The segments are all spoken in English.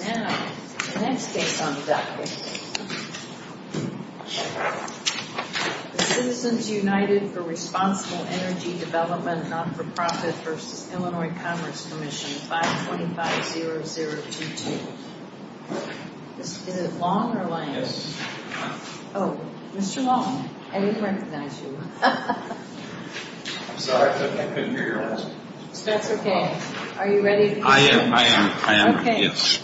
Now, the next case on the docket. Citizens United for Responsible Energy Development NFP v. Illinois Commerce Comm'n 525-0022. Is it Long or Lang? Yes. Oh, Mr. Long, I didn't recognize you. I'm sorry, I couldn't hear your voice. That's okay. Are you ready? I am, I am, I am. Okay. Yes.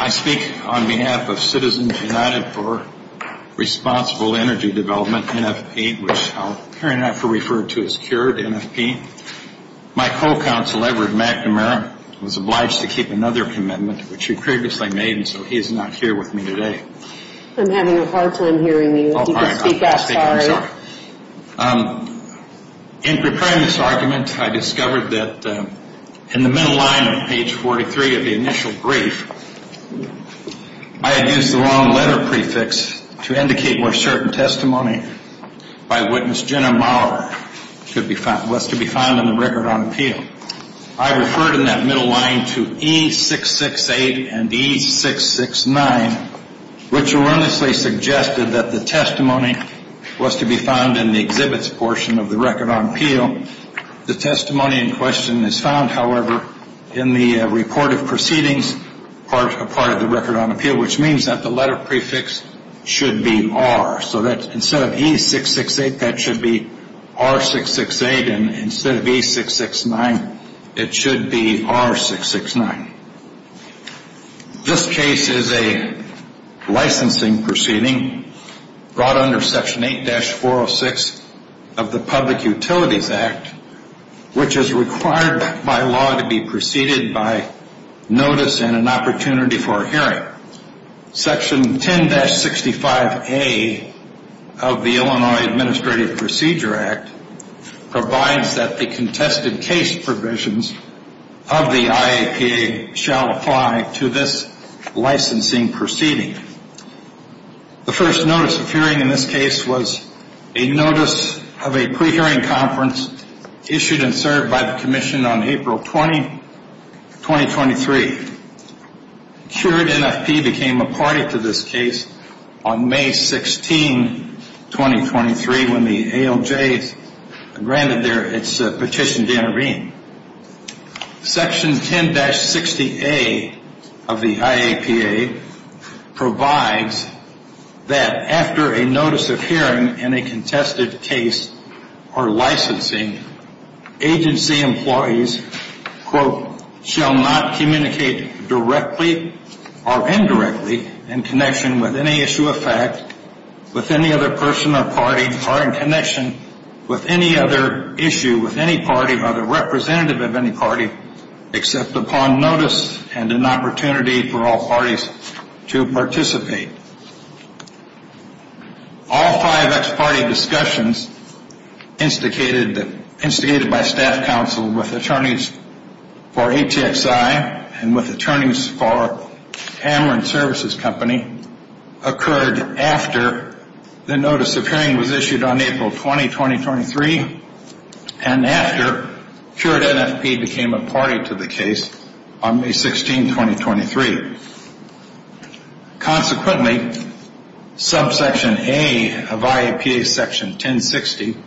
I speak on behalf of Citizens United for Responsible Energy Development NFP, which I'll hereinafter refer to as Cured NFP. My co-counsel, Edward McNamara, was obliged to keep another commitment, which he previously made, and so he is not here with me today. I'm having a hard time hearing you. Oh, all right, I'll speak up. You can speak up, sorry. In preparing this argument, I discovered that in the middle line on page 43 of the initial brief, I had used the wrong letter prefix to indicate where certain testimony by witness Jenna Mauer was to be found in the record on appeal. I referred in that middle line to E668 and E669, which erroneously suggested that the testimony was to be found in the exhibits portion of the record on appeal. The testimony in question is found, however, in the report of proceedings part of the record on appeal, which means that the letter prefix should be R. So instead of E668, that should be R668, and instead of E669, it should be R669. This case is a licensing proceeding brought under Section 8-406 of the Public Utilities Act, which is required by law to be proceeded by notice and an opportunity for a hearing. Section 10-65A of the Illinois Administrative Procedure Act provides that the contested case provisions of the IAPA shall apply to this licensing proceeding. The first notice of hearing in this case was a notice of a pre-hearing conference issued and served by the Commission on April 20, 2023. Cured NFP became a party to this case on May 16, 2023, when the ALJ granted its petition to intervene. Section 10-60A of the IAPA provides that after a notice of hearing in a contested case or licensing, agency employees, quote, shall not communicate directly or indirectly in connection with any issue of fact with any other person or party or in connection with any other issue with any party or the representative of any party except upon notice and an opportunity for all parties to participate. All five ex-party discussions instigated by staff counsel with attorneys for ATXI and with attorneys for Cameron Services Company occurred after the notice of hearing was issued on April 20, 2023 and after cured NFP became a party to the case on May 16, 2023. Consequently, subsection A of IAPA section 10-60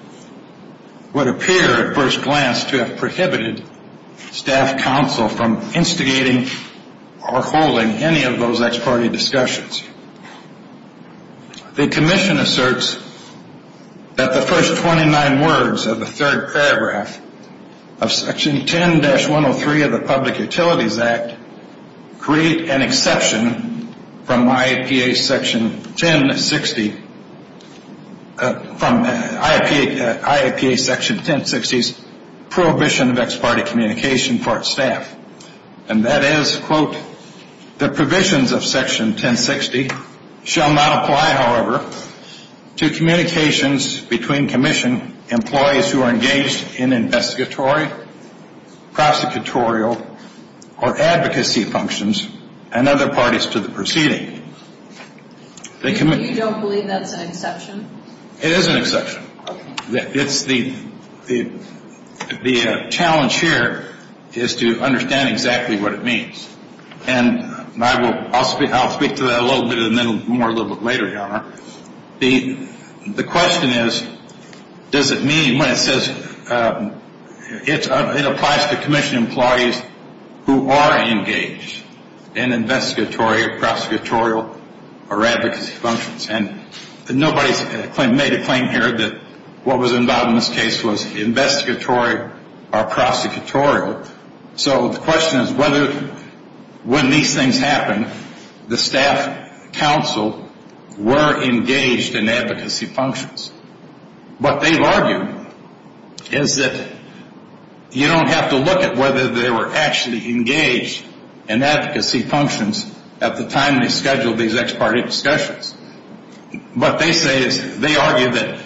would appear at first glance to have prohibited staff counsel from instigating or holding any of those ex-party discussions. The Commission asserts that the first 29 words of the third paragraph of section 10-103 of the Public Utilities Act create an exception from IAPA section 10-60, from IAPA section 10-60's prohibition of ex-party communication for its staff. And that is, quote, the provisions of section 10-60 shall not apply, however, to communications between Commission employees who are engaged in investigatory, prosecutorial, or advocacy functions and other parties to the proceeding. You don't believe that's an exception? It is an exception. The challenge here is to understand exactly what it means. And I'll speak to that a little bit and then more a little bit later, Your Honor. The question is, does it mean when it says it applies to Commission employees who are engaged in investigatory, prosecutorial, or advocacy functions? And nobody's made a claim here that what was involved in this case was investigatory or prosecutorial. So the question is whether when these things happen, the staff counsel were engaged in advocacy functions. What they've argued is that you don't have to look at whether they were actually engaged in advocacy functions at the time they scheduled these ex-party discussions. What they say is they argue that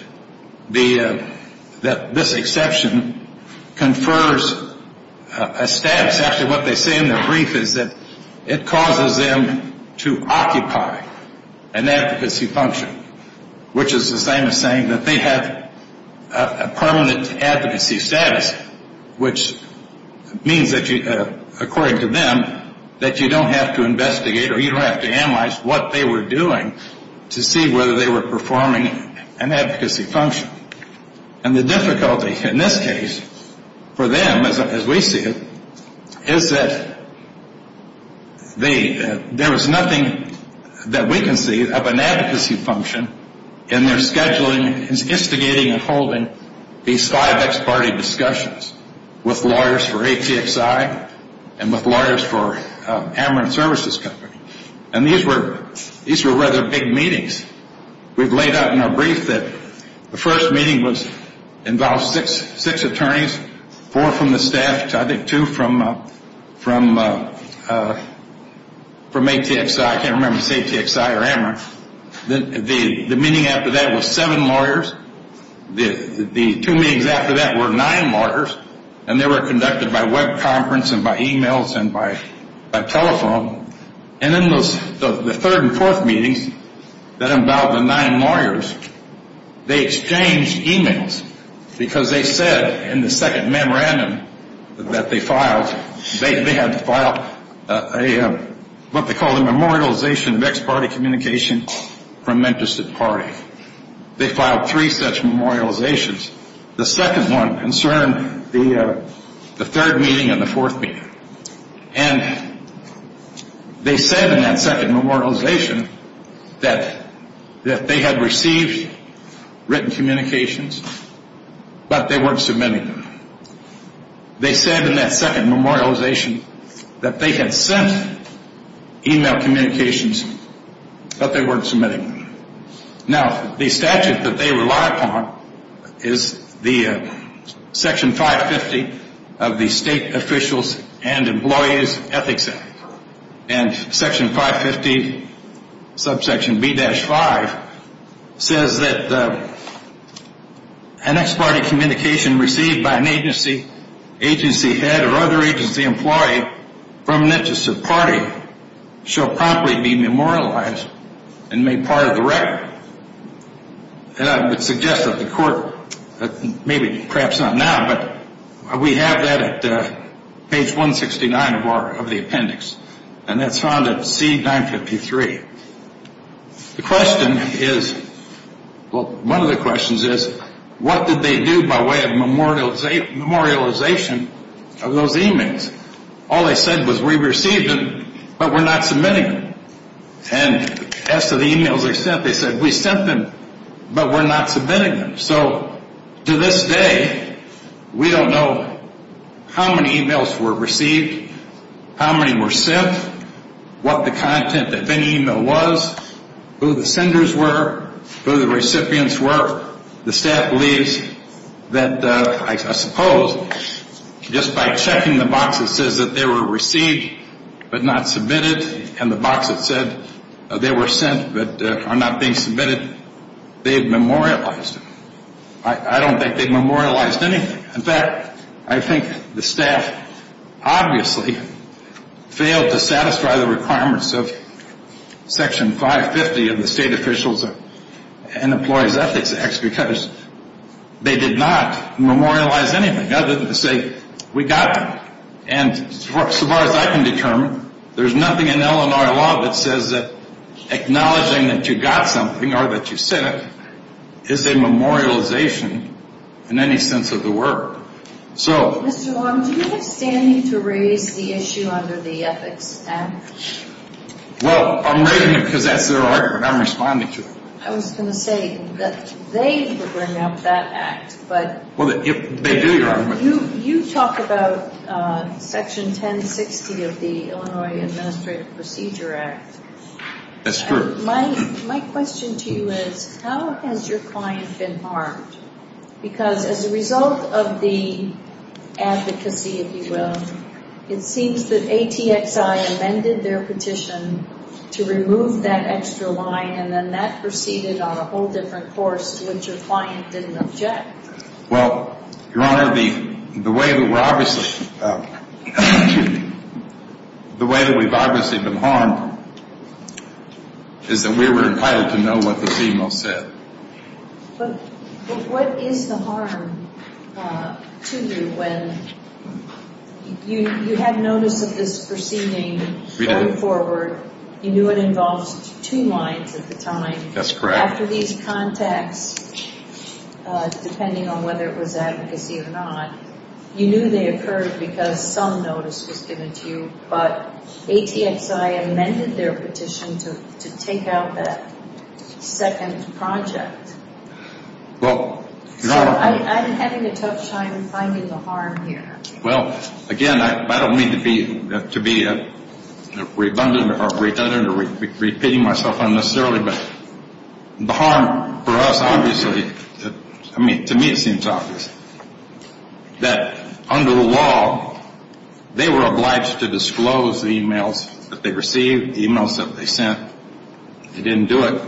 this exception confers a status. Actually, what they say in their brief is that it causes them to occupy an advocacy function, which is the same as saying that they have a permanent advocacy status, which means, according to them, that you don't have to investigate or you don't have to analyze what they were doing to see whether they were performing an advocacy function. And the difficulty in this case for them, as we see it, is that there is nothing that we can see of an advocacy function in their scheduling, instigating, and holding these five ex-party discussions with lawyers for ATXI and with lawyers for Ameren Services Company. And these were rather big meetings. We've laid out in our brief that the first meeting involved six attorneys, four from the staff, I think two from ATXI. I can't remember if it's ATXI or Ameren. The meeting after that was seven lawyers. The two meetings after that were nine lawyers, and they were conducted by web conference and by e-mails and by telephone. And in the third and fourth meetings that involved the nine lawyers, they exchanged e-mails because they said in the second memorandum that they filed, they had to file what they called a memorialization of ex-party communication from interested parties. They filed three such memorializations. The second one concerned the third meeting and the fourth meeting. And they said in that second memorialization that they had received written communications, but they weren't submitting them. They said in that second memorialization that they had sent e-mail communications, but they weren't submitting them. Now, the statute that they rely upon is the Section 550 of the State Officials and Employees Ethics Act. And Section 550, subsection B-5, says that an ex-party communication received by an agency, agency head, or other agency employee from an interested party shall promptly be memorialized and made part of the record. And I would suggest that the court, maybe perhaps not now, but we have that at page 169 of the appendix. And that's found at C-953. The question is, well, one of the questions is, what did they do by way of memorialization of those e-mails? All they said was we received them, but we're not submitting them. And as to the e-mails they sent, they said we sent them, but we're not submitting them. So to this day, we don't know how many e-mails were received, how many were sent, what the content of any e-mail was, who the senders were, who the recipients were. The staff believes that, I suppose, just by checking the box that says that they were received but not submitted, and the box that said they were sent but are not being submitted, they've memorialized them. I don't think they've memorialized anything. In fact, I think the staff obviously failed to satisfy the requirements of Section 550 of the State Officials and Employees Ethics Act because they did not memorialize anything other than to say we got them. And so far as I can determine, there's nothing in Illinois law that says that acknowledging that you got something or that you sent it is a memorialization in any sense of the word. So... Mr. Long, do you have standing to raise the issue under the Ethics Act? Well, I'm raising it because that's their argument. I'm responding to it. I was going to say that they would bring up that act, but... Well, they do, Your Honor. You talk about Section 1060 of the Illinois Administrative Procedure Act. That's true. My question to you is, how has your client been harmed? Because as a result of the advocacy, if you will, it seems that ATXI amended their petition to remove that extra line, and then that proceeded on a whole different course, which your client didn't object. Well, Your Honor, the way that we're obviously... The way that we've obviously been harmed is that we were entitled to know what the female said. But what is the harm to you when you had notice of this proceeding going forward, you knew it involved two lines at the time... That's correct. After these contacts, depending on whether it was advocacy or not, you knew they occurred because some notice was given to you, but ATXI amended their petition to take out that second project. Well, Your Honor... So I'm having a tough time finding the harm here. Well, again, I don't mean to be redundant or repeating myself unnecessarily, but the harm for us obviously, to me it seems obvious, that under the law they were obliged to disclose the emails that they received, the emails that they sent. They didn't do it.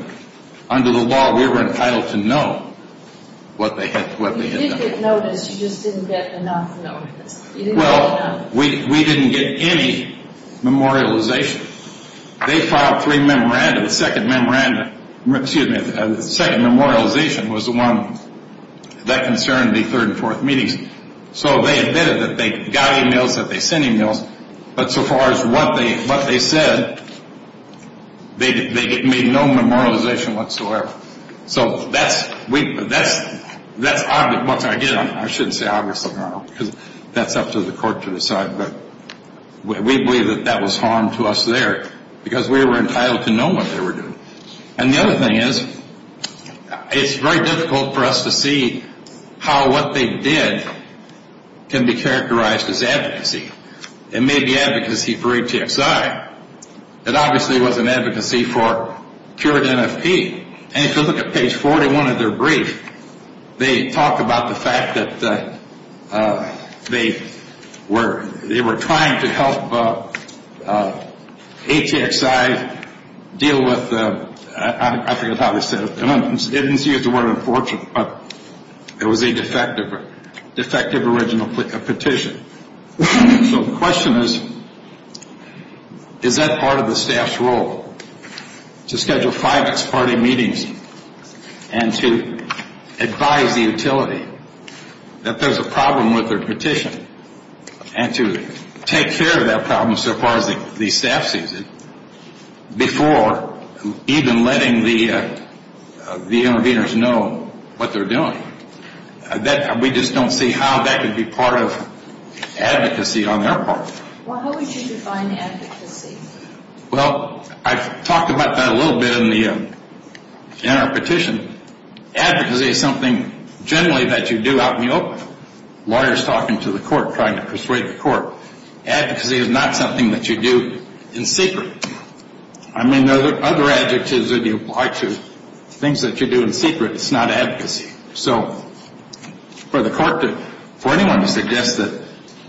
Under the law, we were entitled to know what they had done. You didn't get notice. You just didn't get enough notice. Well, we didn't get any memorialization. They filed three memoranda. The second memoranda, excuse me, the second memorialization was the one that concerned the third and fourth meetings. So they admitted that they got emails, that they sent emails, but so far as what they said, they made no memorialization whatsoever. So that's what I get. I shouldn't say obviously, Your Honor, because that's up to the court to decide, but we believe that that was harm to us there because we were entitled to know what they were doing. And the other thing is, it's very difficult for us to see how what they did can be characterized as advocacy. It may be advocacy for ATXI. It obviously wasn't advocacy for cured NFP. And if you look at page 41 of their brief, they talk about the fact that they were trying to help ATXI deal with, I think that's how they said it, it didn't use the word unfortunate, but it was a defective original petition. So the question is, is that part of the staff's role to schedule five, six-party meetings and to advise the utility that there's a problem with their petition and to take care of that problem so far as the staff sees it before even letting the interveners know what they're doing? We just don't see how that could be part of advocacy on their part. Well, how would you define advocacy? Well, I've talked about that a little bit in our petition. Advocacy is something generally that you do out in the open. Lawyers talking to the court, trying to persuade the court. Advocacy is not something that you do in secret. I mean, there are other adjectives that you apply to things that you do in secret. It's not advocacy. So for the court to, for anyone to suggest that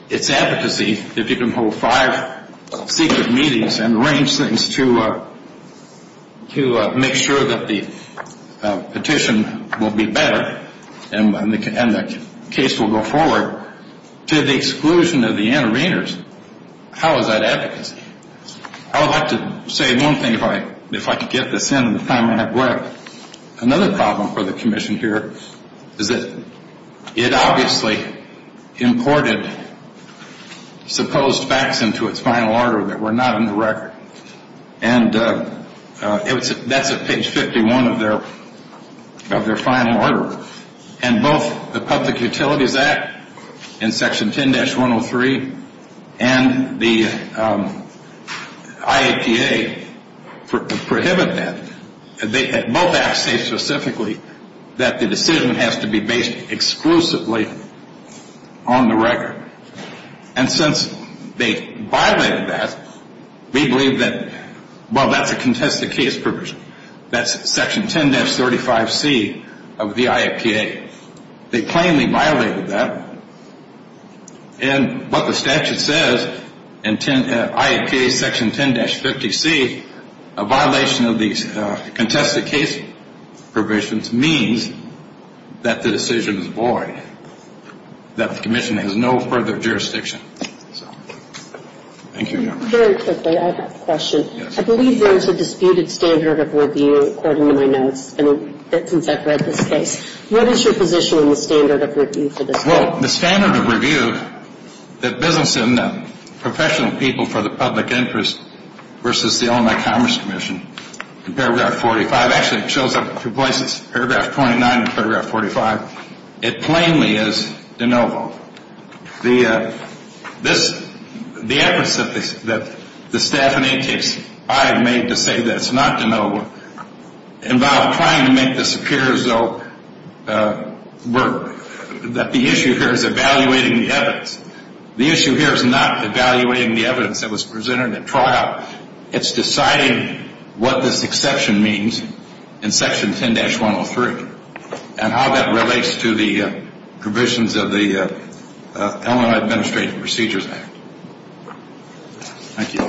it's advocacy if you can hold five secret meetings and arrange things to make sure that the petition will be better and the case will go forward, to the exclusion of the interveners, how is that advocacy? I would like to say one thing if I can get this in in the time I have left. Another problem for the commission here is that it obviously imported supposed facts into its final order that were not in the record. And that's at page 51 of their final order. And both the Public Utilities Act in Section 10-103 and the IAPA prohibit that. Both acts say specifically that the decision has to be based exclusively on the record. And since they violated that, we believe that, well, that's a contested case provision. That's Section 10-35C of the IAPA. They plainly violated that. And what the statute says in IAPA Section 10-50C, a violation of these contested case provisions means that the decision is void, that the commission has no further jurisdiction. Thank you. Very quickly, I have a question. I believe there is a disputed standard of review, according to my notes, since I've read this case. What is your position on the standard of review for this case? Well, the standard of review that business and professional people for the public interest versus the Illinois Commerce Commission in paragraph 45, actually it shows up in two places, paragraph 29 and paragraph 45. It plainly is de novo. The efforts that the staff and ATSI have made to say that it's not de novo involve trying to make this appear as though work, that the issue here is evaluating the evidence. The issue here is not evaluating the evidence that was presented at trial. It's deciding what this exception means in Section 10-103 and how that relates to the provisions of the Illinois Administrative Procedures Act. Thank you.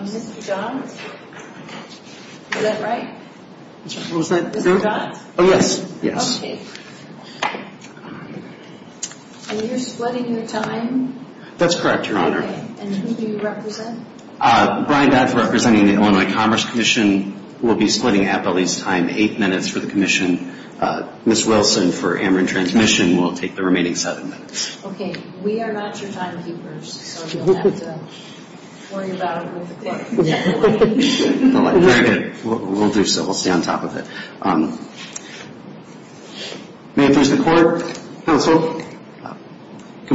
Mr. Johns, is that right? What was that? Mr. Johns? Oh, yes. Okay. And you're splitting your time? That's correct, Your Honor. Okay. And who do you represent? Brian Dodds representing the Illinois Commerce Commission. We'll be splitting Appellee's time eight minutes for the Commission. Ms. Wilson for Amarin Transmission will take the remaining seven minutes. Okay. We are not your timekeepers, so you'll have to worry about it with the clerk. Very good. We'll do so. We'll stay on top of it. May I introduce the court, counsel? Good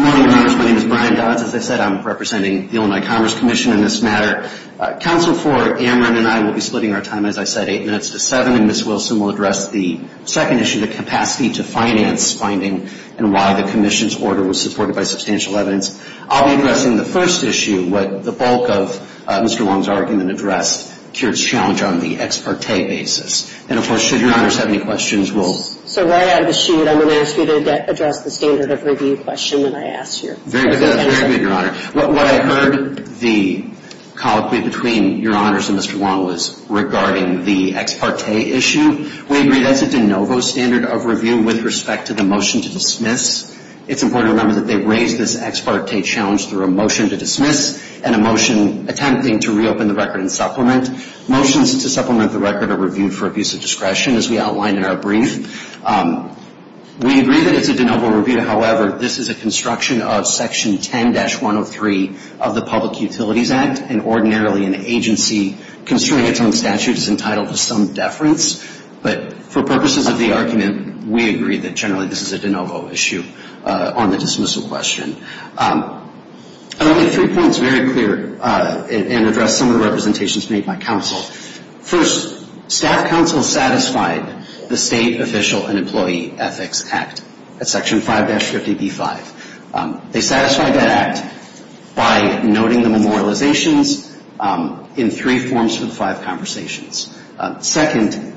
morning, Your Honor. My name is Brian Dodds. As I said, I'm representing the Illinois Commerce Commission in this matter. Counsel for Amarin and I will be splitting our time, as I said, eight minutes to seven, and Ms. Wilson will address the second issue, the capacity to finance finding and why the Commission's order was supported by substantial evidence. I'll be addressing the first issue, what the bulk of Mr. Wong's argument addressed, Kirt's challenge on the ex parte basis. And, of course, should Your Honors have any questions, we'll So right out of the chute, I'm going to ask you to address the standard of review question that I asked you. Very good, Your Honor. What I heard the colloquy between Your Honors and Mr. Wong was regarding the ex parte issue. We agree that's a de novo standard of review with respect to the motion to dismiss. It's important to remember that they raised this ex parte challenge through a motion to dismiss and a motion attempting to reopen the record and supplement. Motions to supplement the record are reviewed for abuse of discretion, as we outlined in our brief. We agree that it's a de novo review. However, this is a construction of Section 10-103 of the Public Utilities Act, and ordinarily an agency construing its own statute is entitled to some deference. But for purposes of the argument, we agree that generally this is a de novo issue on the dismissal question. I want to make three points very clear and address some of the representations made by counsel. First, staff counsel satisfied the State Official and Employee Ethics Act at Section 5-50B-5. They satisfied that act by noting the memorializations in three forms for the five conversations. Second,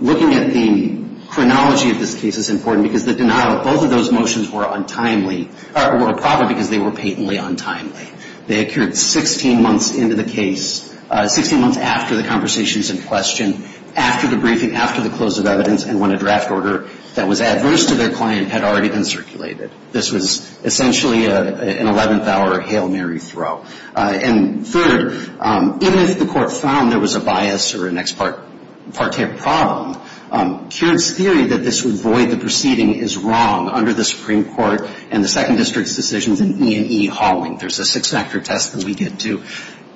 looking at the chronology of this case is important because the denial of both of those motions were untimely or were a problem because they were patently untimely. They occurred 16 months into the case, 16 months after the conversations in question, after the briefing, after the close of evidence, and when a draft order that was adverse to their client had already been circulated. This was essentially an 11th-hour Hail Mary throw. And third, even if the Court found there was a bias or an ex parte problem, Keird's theory that this would void the proceeding is wrong under the Supreme Court and the Second District's decisions in E&E hauling. There's a six-factor test that we get to.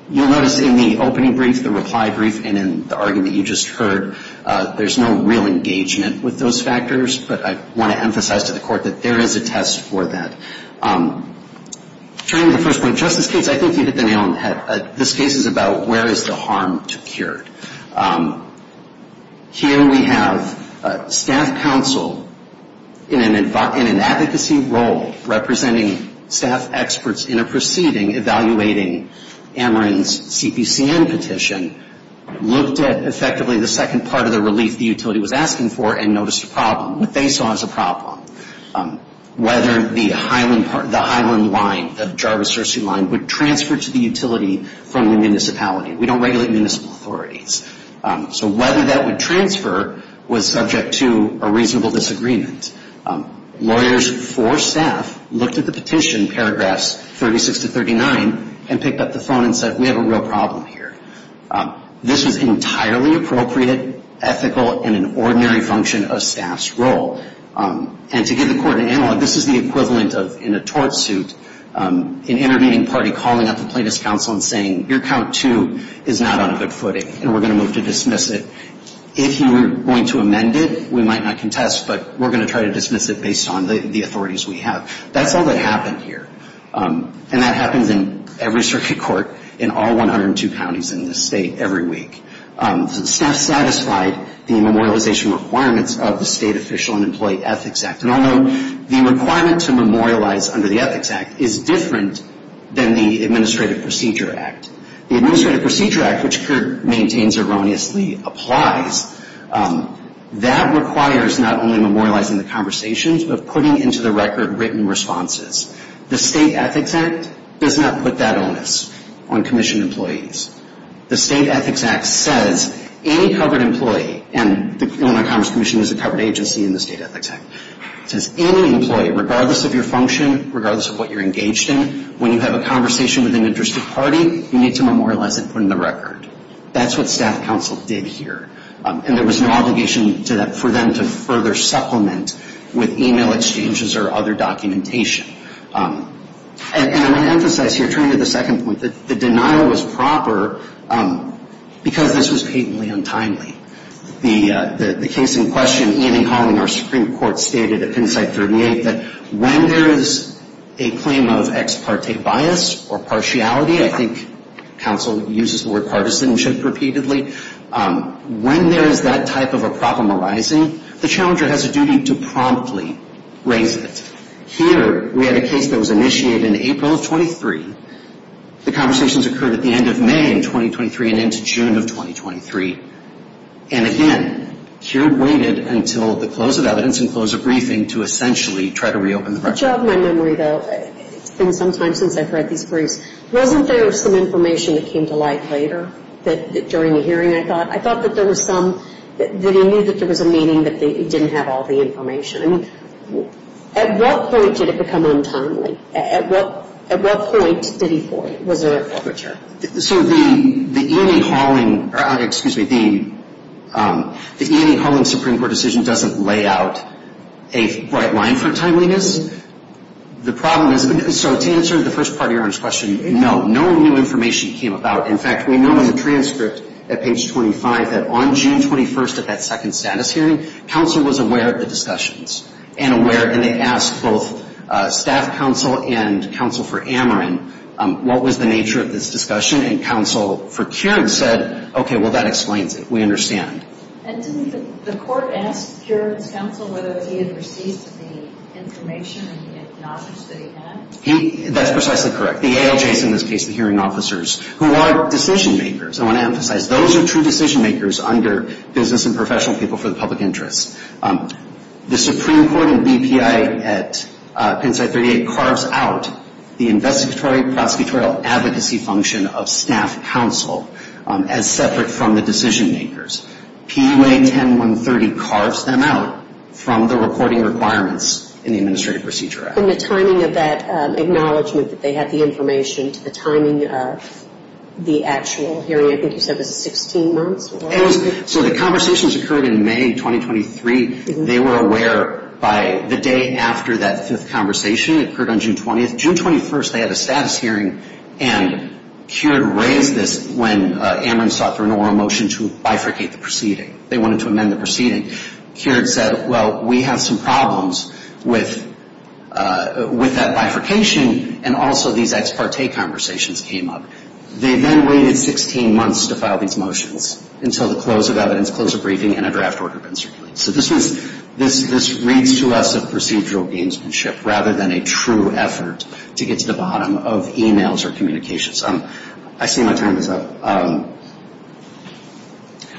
You'll notice in the opening brief, the reply brief, and in the argument you just heard, there's no real engagement with those factors. But I want to emphasize to the Court that there is a test for that. Turning to the first point, Justice Gates, I think you hit the nail on the head. This case is about where is the harm to Keird. Here we have staff counsel in an advocacy role, representing staff experts in a proceeding evaluating Ameren's CPCN petition, looked at effectively the second part of the relief the utility was asking for and noticed a problem, what they saw as a problem, whether the Highland line, the Jarvis-Hershey line, would transfer to the utility from the municipality. We don't regulate municipal authorities. So whether that would transfer was subject to a reasonable disagreement. Lawyers for staff looked at the petition, paragraphs 36 to 39, and picked up the phone and said, we have a real problem here. This was entirely appropriate, ethical, and an ordinary function of staff's role. And to give the Court an analog, this is the equivalent of in a tort suit, an intervening party calling up the plaintiff's counsel and saying, your count two is not on good footing and we're going to move to dismiss it. If you were going to amend it, we might not contest, but we're going to try to dismiss it based on the authorities we have. That's all that happened here. And that happens in every circuit court in all 102 counties in this state every week. So the staff satisfied the memorialization requirements of the State Official and Employee Ethics Act. And although the requirement to memorialize under the Ethics Act is different than the Administrative Procedure Act, the Administrative Procedure Act, which the Court maintains erroneously, applies. That requires not only memorializing the conversations, but putting into the record written responses. The State Ethics Act does not put that onus on commission employees. The State Ethics Act says any covered employee, and the Illinois Commerce Commission is a covered agency in the State Ethics Act, it says any employee, regardless of your function, regardless of what you're engaged in, when you have a conversation with an interested party, you need to memorialize it and put it in the record. That's what staff counsel did here. And there was an obligation for them to further supplement with email exchanges or other documentation. And I want to emphasize here, turning to the second point, that the denial was proper because this was patently untimely. The case in question, Ian E. Holling, our Supreme Court, stated at Pennside 38, that when there is a claim of ex parte bias or partiality, I think counsel uses the word partisanship repeatedly, when there is that type of a problem arising, the challenger has a duty to promptly raise it. Here, we had a case that was initiated in April of 23. The conversations occurred at the end of May in 2023 and into June of 2023. And again, here waited until the close of evidence and close of briefing to essentially try to reopen the record. It's been some time since I've read these briefs. Wasn't there some information that came to light later during the hearing, I thought? I thought that there was some, that he knew that there was a meeting, but he didn't have all the information. I mean, at what point did it become untimely? At what point did he void it? Was there a premature? So the Ian E. Holling, excuse me, the Ian E. Holling Supreme Court decision doesn't lay out a bright line for timeliness. The problem is, so to answer the first part of your question, no. No new information came about. In fact, we know in the transcript at page 25 that on June 21st, at that second status hearing, counsel was aware of the discussions and they asked both staff counsel and counsel for Ameren, what was the nature of this discussion? And counsel for Kearns said, okay, well, that explains it. We understand. And didn't the court ask Kearns' counsel whether he had received the information and the acknowledgment that he had? That's precisely correct. The ALJs, in this case the hearing officers, who are decision makers, I want to emphasize those are true decision makers under business and professional people for the public interest. The Supreme Court and BPI at Penn State 38 carves out the investigatory prosecutorial advocacy function of staff counsel as separate from the decision makers. PUA 10-130 carves them out from the reporting requirements in the Administrative Procedure Act. And the timing of that acknowledgment that they had the information to the timing of the actual hearing, I think you said it was 16 months? It was. So the conversations occurred in May 2023. They were aware by the day after that fifth conversation. It occurred on June 20th. June 21st they had a status hearing and Kearns raised this when Ameren sought for an oral motion to bifurcate the proceeding. They wanted to amend the proceeding. Kearns said, well, we have some problems with that bifurcation and also these ex parte conversations came up. They then waited 16 months to file these motions until the close of evidence, close of briefing, and a draft order had been circulated. So this reads to us as procedural gamesmanship rather than a true effort to get to the bottom of e-mails or communications. I see my time is up.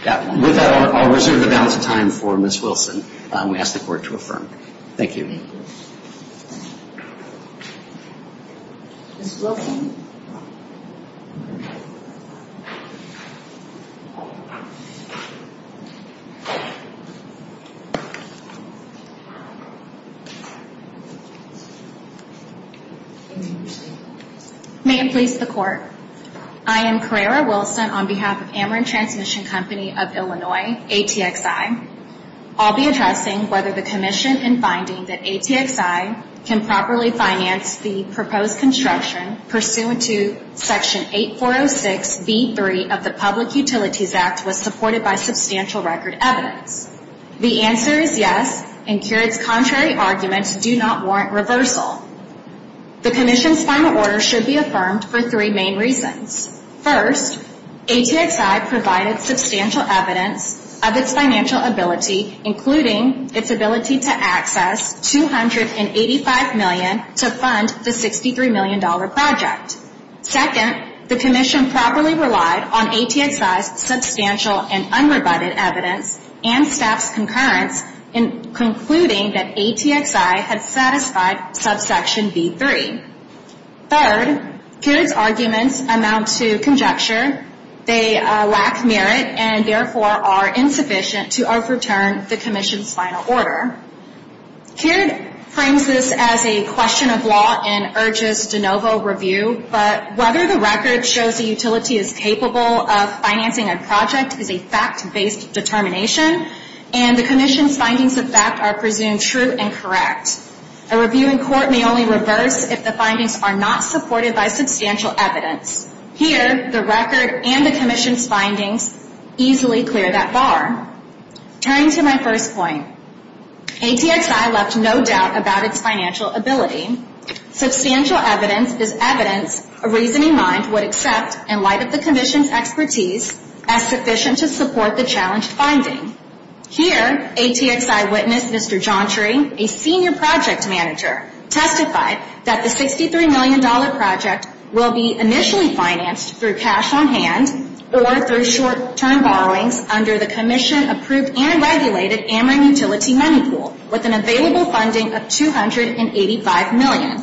With that, I'll reserve the balance of time for Ms. Wilson. We ask the Court to affirm. Thank you. Thank you. Ms. Wilson. May it please the Court. I am Carrera Wilson on behalf of Ameren Transmission Company of Illinois, ATXI. I'll be addressing whether the commission in finding that ATXI can properly finance the proposed construction pursuant to Section 8406B3 of the Public Utilities Act was supported by substantial record evidence. The answer is yes, and Kearns' contrary arguments do not warrant reversal. The commission's final order should be affirmed for three main reasons. First, ATXI provided substantial evidence of its financial ability, including its ability to access $285 million to fund the $63 million project. Second, the commission properly relied on ATXI's substantial and unrebutted evidence and staff's concurrence in concluding that ATXI had satisfied subsection B3. Third, Kearns' arguments amount to conjecture. They lack merit and therefore are insufficient to overturn the commission's final order. Kearns frames this as a question of law and urges de novo review, but whether the record shows the utility is capable of financing a project is a fact-based determination, and the commission's findings of fact are presumed true and correct. A review in court may only reverse if the findings are not supported by substantial evidence. Here, the record and the commission's findings easily clear that bar. Turning to my first point, ATXI left no doubt about its financial ability. Substantial evidence is evidence a reasoning mind would accept in light of the commission's expertise as sufficient to support the challenged finding. Here, ATXI witnessed Mr. John Tree, a senior project manager, testify that the $63 million project will be initially financed through cash on hand or through short-term borrowings under the commission-approved and regulated Ameren Utility Money Pool with an available funding of $285 million.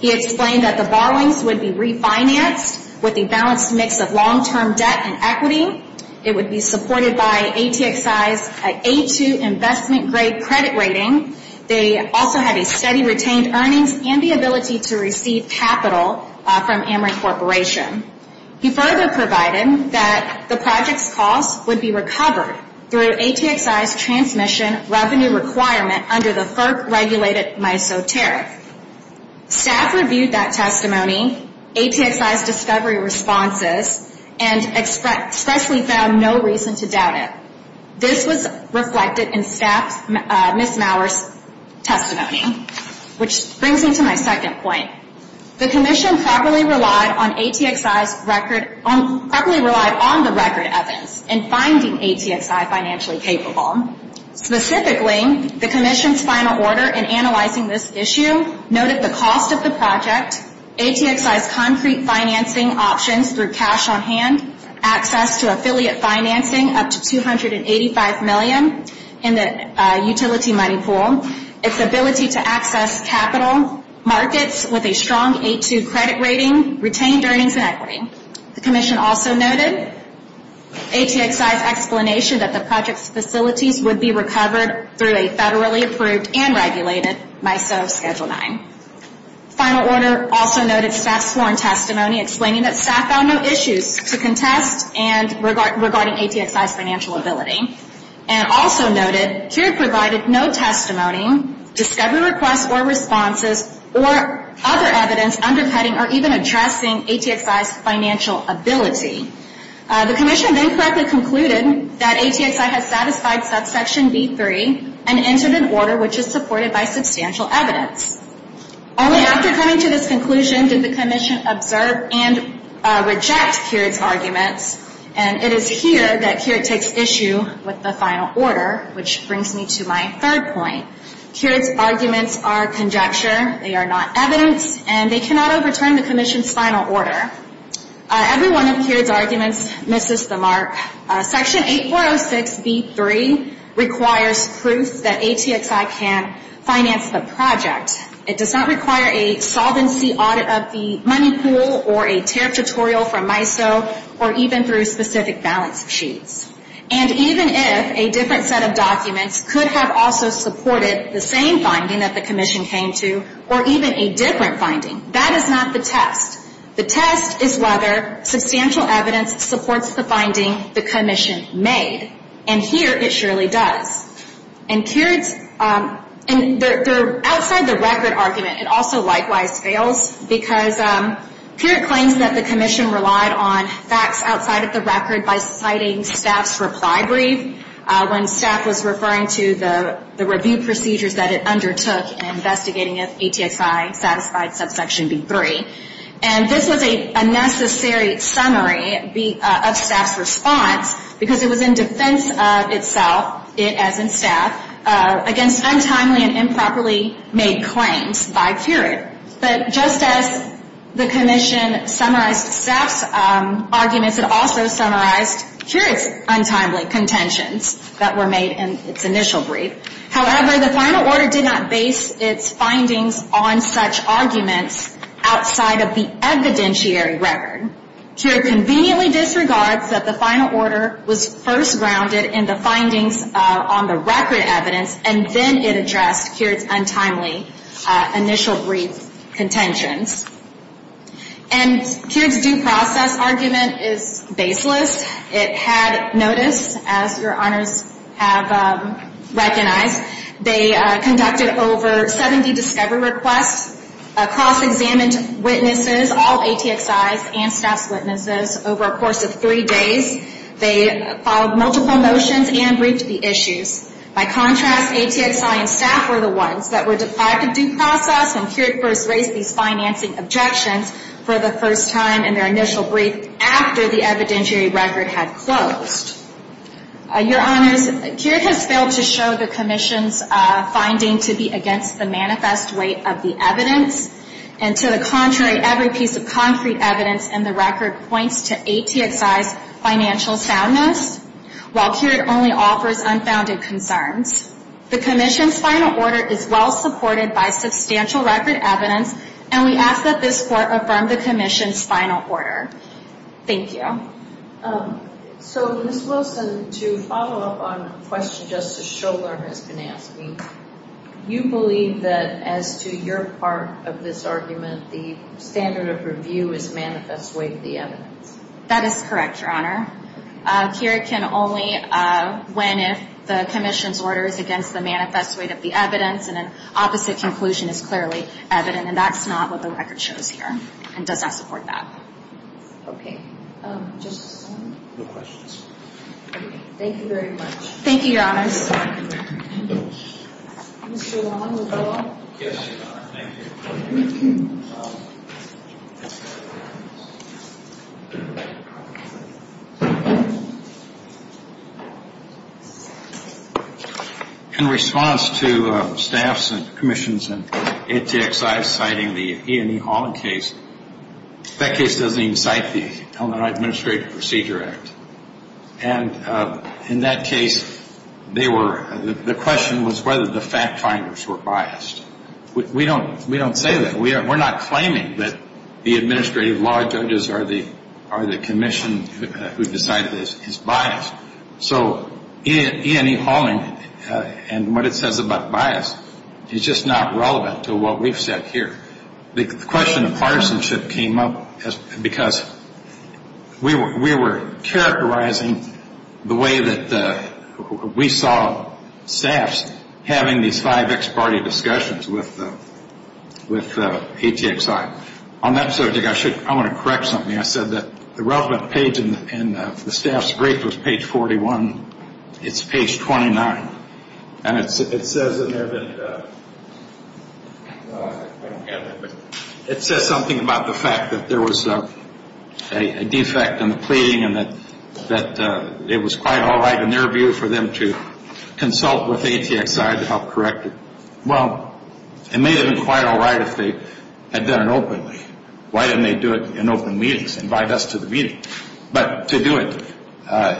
He explained that the borrowings would be refinanced with a balanced mix of long-term debt and equity. It would be supported by ATXI's A2 investment-grade credit rating. They also had a steady retained earnings and the ability to receive capital from Ameren Corporation. He further provided that the project's costs would be recovered through ATXI's transmission revenue requirement under the FERC-regulated MISO tariff. Staff reviewed that testimony, ATXI's discovery responses, and expressly found no reason to doubt it. This was reflected in staff Ms. Maurer's testimony, which brings me to my second point. The commission properly relied on ATXI's record, properly relied on the record evidence in finding ATXI financially capable. Specifically, the commission's final order in analyzing this issue noted the cost of the project, ATXI's concrete financing options through cash on hand, access to affiliate financing, up to $285 million in the utility money pool, its ability to access capital, markets with a strong A2 credit rating, retained earnings and equity. The commission also noted ATXI's explanation that the project's facilities would be recovered through a federally approved and regulated MISO Schedule IX. Final order also noted staff's sworn testimony, explaining that staff found no issues to contest and regarding ATXI's financial ability. And also noted, CURE provided no testimony, discovery requests or responses, or other evidence undercutting or even addressing ATXI's financial ability. The commission then correctly concluded that ATXI had satisfied subsection B3 and entered an order which is supported by substantial evidence. Only after coming to this conclusion did the commission observe and reject CURE's arguments, and it is here that CURE takes issue with the final order, which brings me to my third point. CURE's arguments are conjecture, they are not evidence, and they cannot overturn the commission's final order. Every one of CURE's arguments misses the mark. Section 8406B3 requires proof that ATXI can finance the project. It does not require a solvency audit of the money pool or a tariff tutorial from MISO or even through specific balance sheets. And even if a different set of documents could have also supported the same finding that the commission came to or even a different finding, that is not the test. The test is whether substantial evidence supports the finding the commission made, and here it surely does. And outside the record argument, it also likewise fails, because CURE claims that the commission relied on facts outside of the record by citing staff's reply brief when staff was referring to the review procedures that it undertook in investigating if ATXI satisfied subsection B3. And this was a necessary summary of staff's response, because it was in defense of itself, it as in staff, against untimely and improperly made claims by CURE. But just as the commission summarized staff's arguments, it also summarized CURE's untimely contentions that were made in its initial brief. However, the final order did not base its findings on such arguments outside of the evidentiary record. CURE conveniently disregards that the final order was first grounded in the findings on the record evidence, and then it addressed CURE's untimely initial brief contentions. And CURE's due process argument is baseless. It had notice, as your honors have recognized. They conducted over 70 discovery requests, cross-examined witnesses, all ATXIs and staff's witnesses, over a course of three days. They followed multiple motions and briefed the issues. By contrast, ATXI and staff were the ones that were deprived of due process, and CURE first raised these financing objections for the first time in their initial brief after the evidentiary record had closed. Your honors, CURE has failed to show the commission's finding to be against the manifest weight of the evidence. And to the contrary, every piece of concrete evidence in the record points to ATXI's financial soundness, while CURE only offers unfounded concerns. The commission's final order is well supported by substantial record evidence, and we ask that this court affirm the commission's final order. Thank you. So, Ms. Wilson, to follow up on a question Justice Scholar has been asking, you believe that as to your part of this argument, the standard of review is manifest weight of the evidence. That is correct, your honor. CURE can only win if the commission's order is against the manifest weight of the evidence and an opposite conclusion is clearly evident. And that's not what the record shows here and does not support that. Okay. Justice O'Connor? No questions. Thank you very much. Thank you, your honors. Mr. Long, will you follow up? Yes, your honor. Thank you. In response to staffs and commissions and ATXI citing the Ian E. Holland case, that case doesn't even cite the Illinois Administrative Procedure Act. And in that case, the question was whether the fact finders were biased. We don't say that. We're not claiming that the administrative law judges are the commission who decided this is biased. So Ian E. Holland and what it says about bias is just not relevant to what we've said here. The question of partisanship came up because we were characterizing the way that we saw staffs having these five ex-party discussions with ATXI. On that subject, I want to correct something. I said that the relevant page in the staff's brief was page 41. It's page 29. It says something about the fact that there was a defect in the pleading and that it was quite all right in their view for them to consult with ATXI to help correct it. Well, it may have been quite all right if they had done it openly. Why didn't they do it in open meetings, invite us to the meeting? But to do it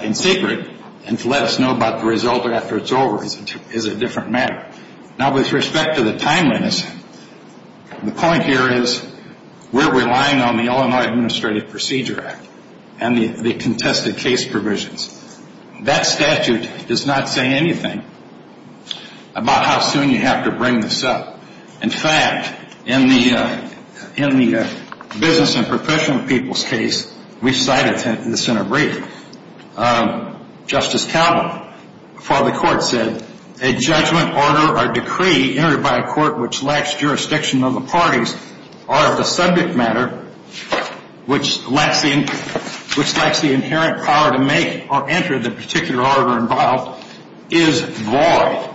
in secret and to let us know about the result after it's over is a different matter. Now, with respect to the timeliness, the point here is we're relying on the Illinois Administrative Procedure Act and the contested case provisions. That statute does not say anything about how soon you have to bring this up. In fact, in the business and professional people's case we cited in the Senate brief, Justice Caldwell, before the court, said, a judgment, order, or decree entered by a court which lacks jurisdiction of the parties or of the subject matter which lacks the inherent power to make or enter the particular order involved is void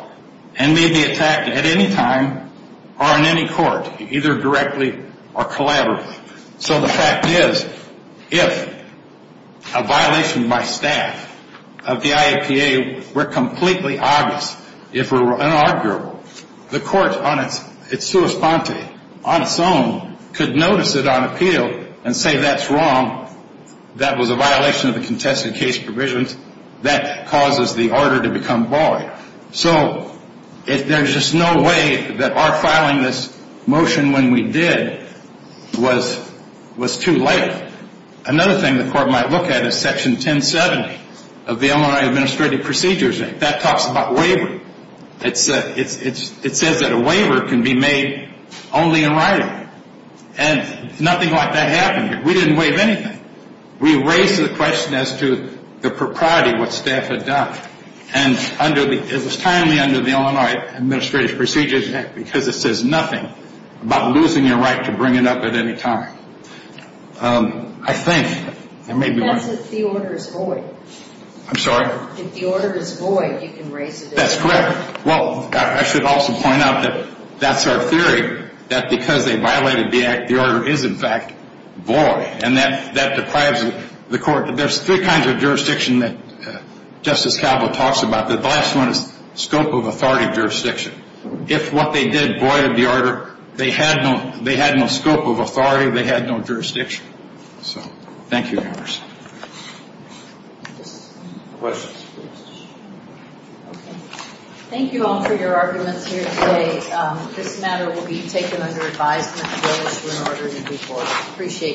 and may be attacked at any time or in any court, either directly or collaboratively. So the fact is, if a violation by staff of the IAPA were completely obvious, if it were inarguable, the court on its own could notice it on appeal and say that's wrong, that was a violation of the contested case provisions, that causes the order to become void. So there's just no way that our filing this motion when we did was too late. Another thing the court might look at is Section 1070 of the Illinois Administrative Procedures Act. That talks about waiver. It says that a waiver can be made only in writing. And nothing like that happened here. We didn't waive anything. We raised the question as to the propriety of what staff had done. And it was timely under the Illinois Administrative Procedures Act because it says nothing about losing your right to bring it up at any time. That's if the order is void. I'm sorry? If the order is void, you can raise it. That's correct. Well, I should also point out that that's our theory, that because they violated the act, the order is, in fact, void. And that deprives the court. There's three kinds of jurisdiction that Justice Caldwell talks about. The last one is scope of authority jurisdiction. If what they did voided the order, they had no scope of authority. They had no jurisdiction. So thank you, Your Honors. Questions, please? Okay. Thank you all for your arguments here today. This matter will be taken under advisement. Thank you. Appreciate it.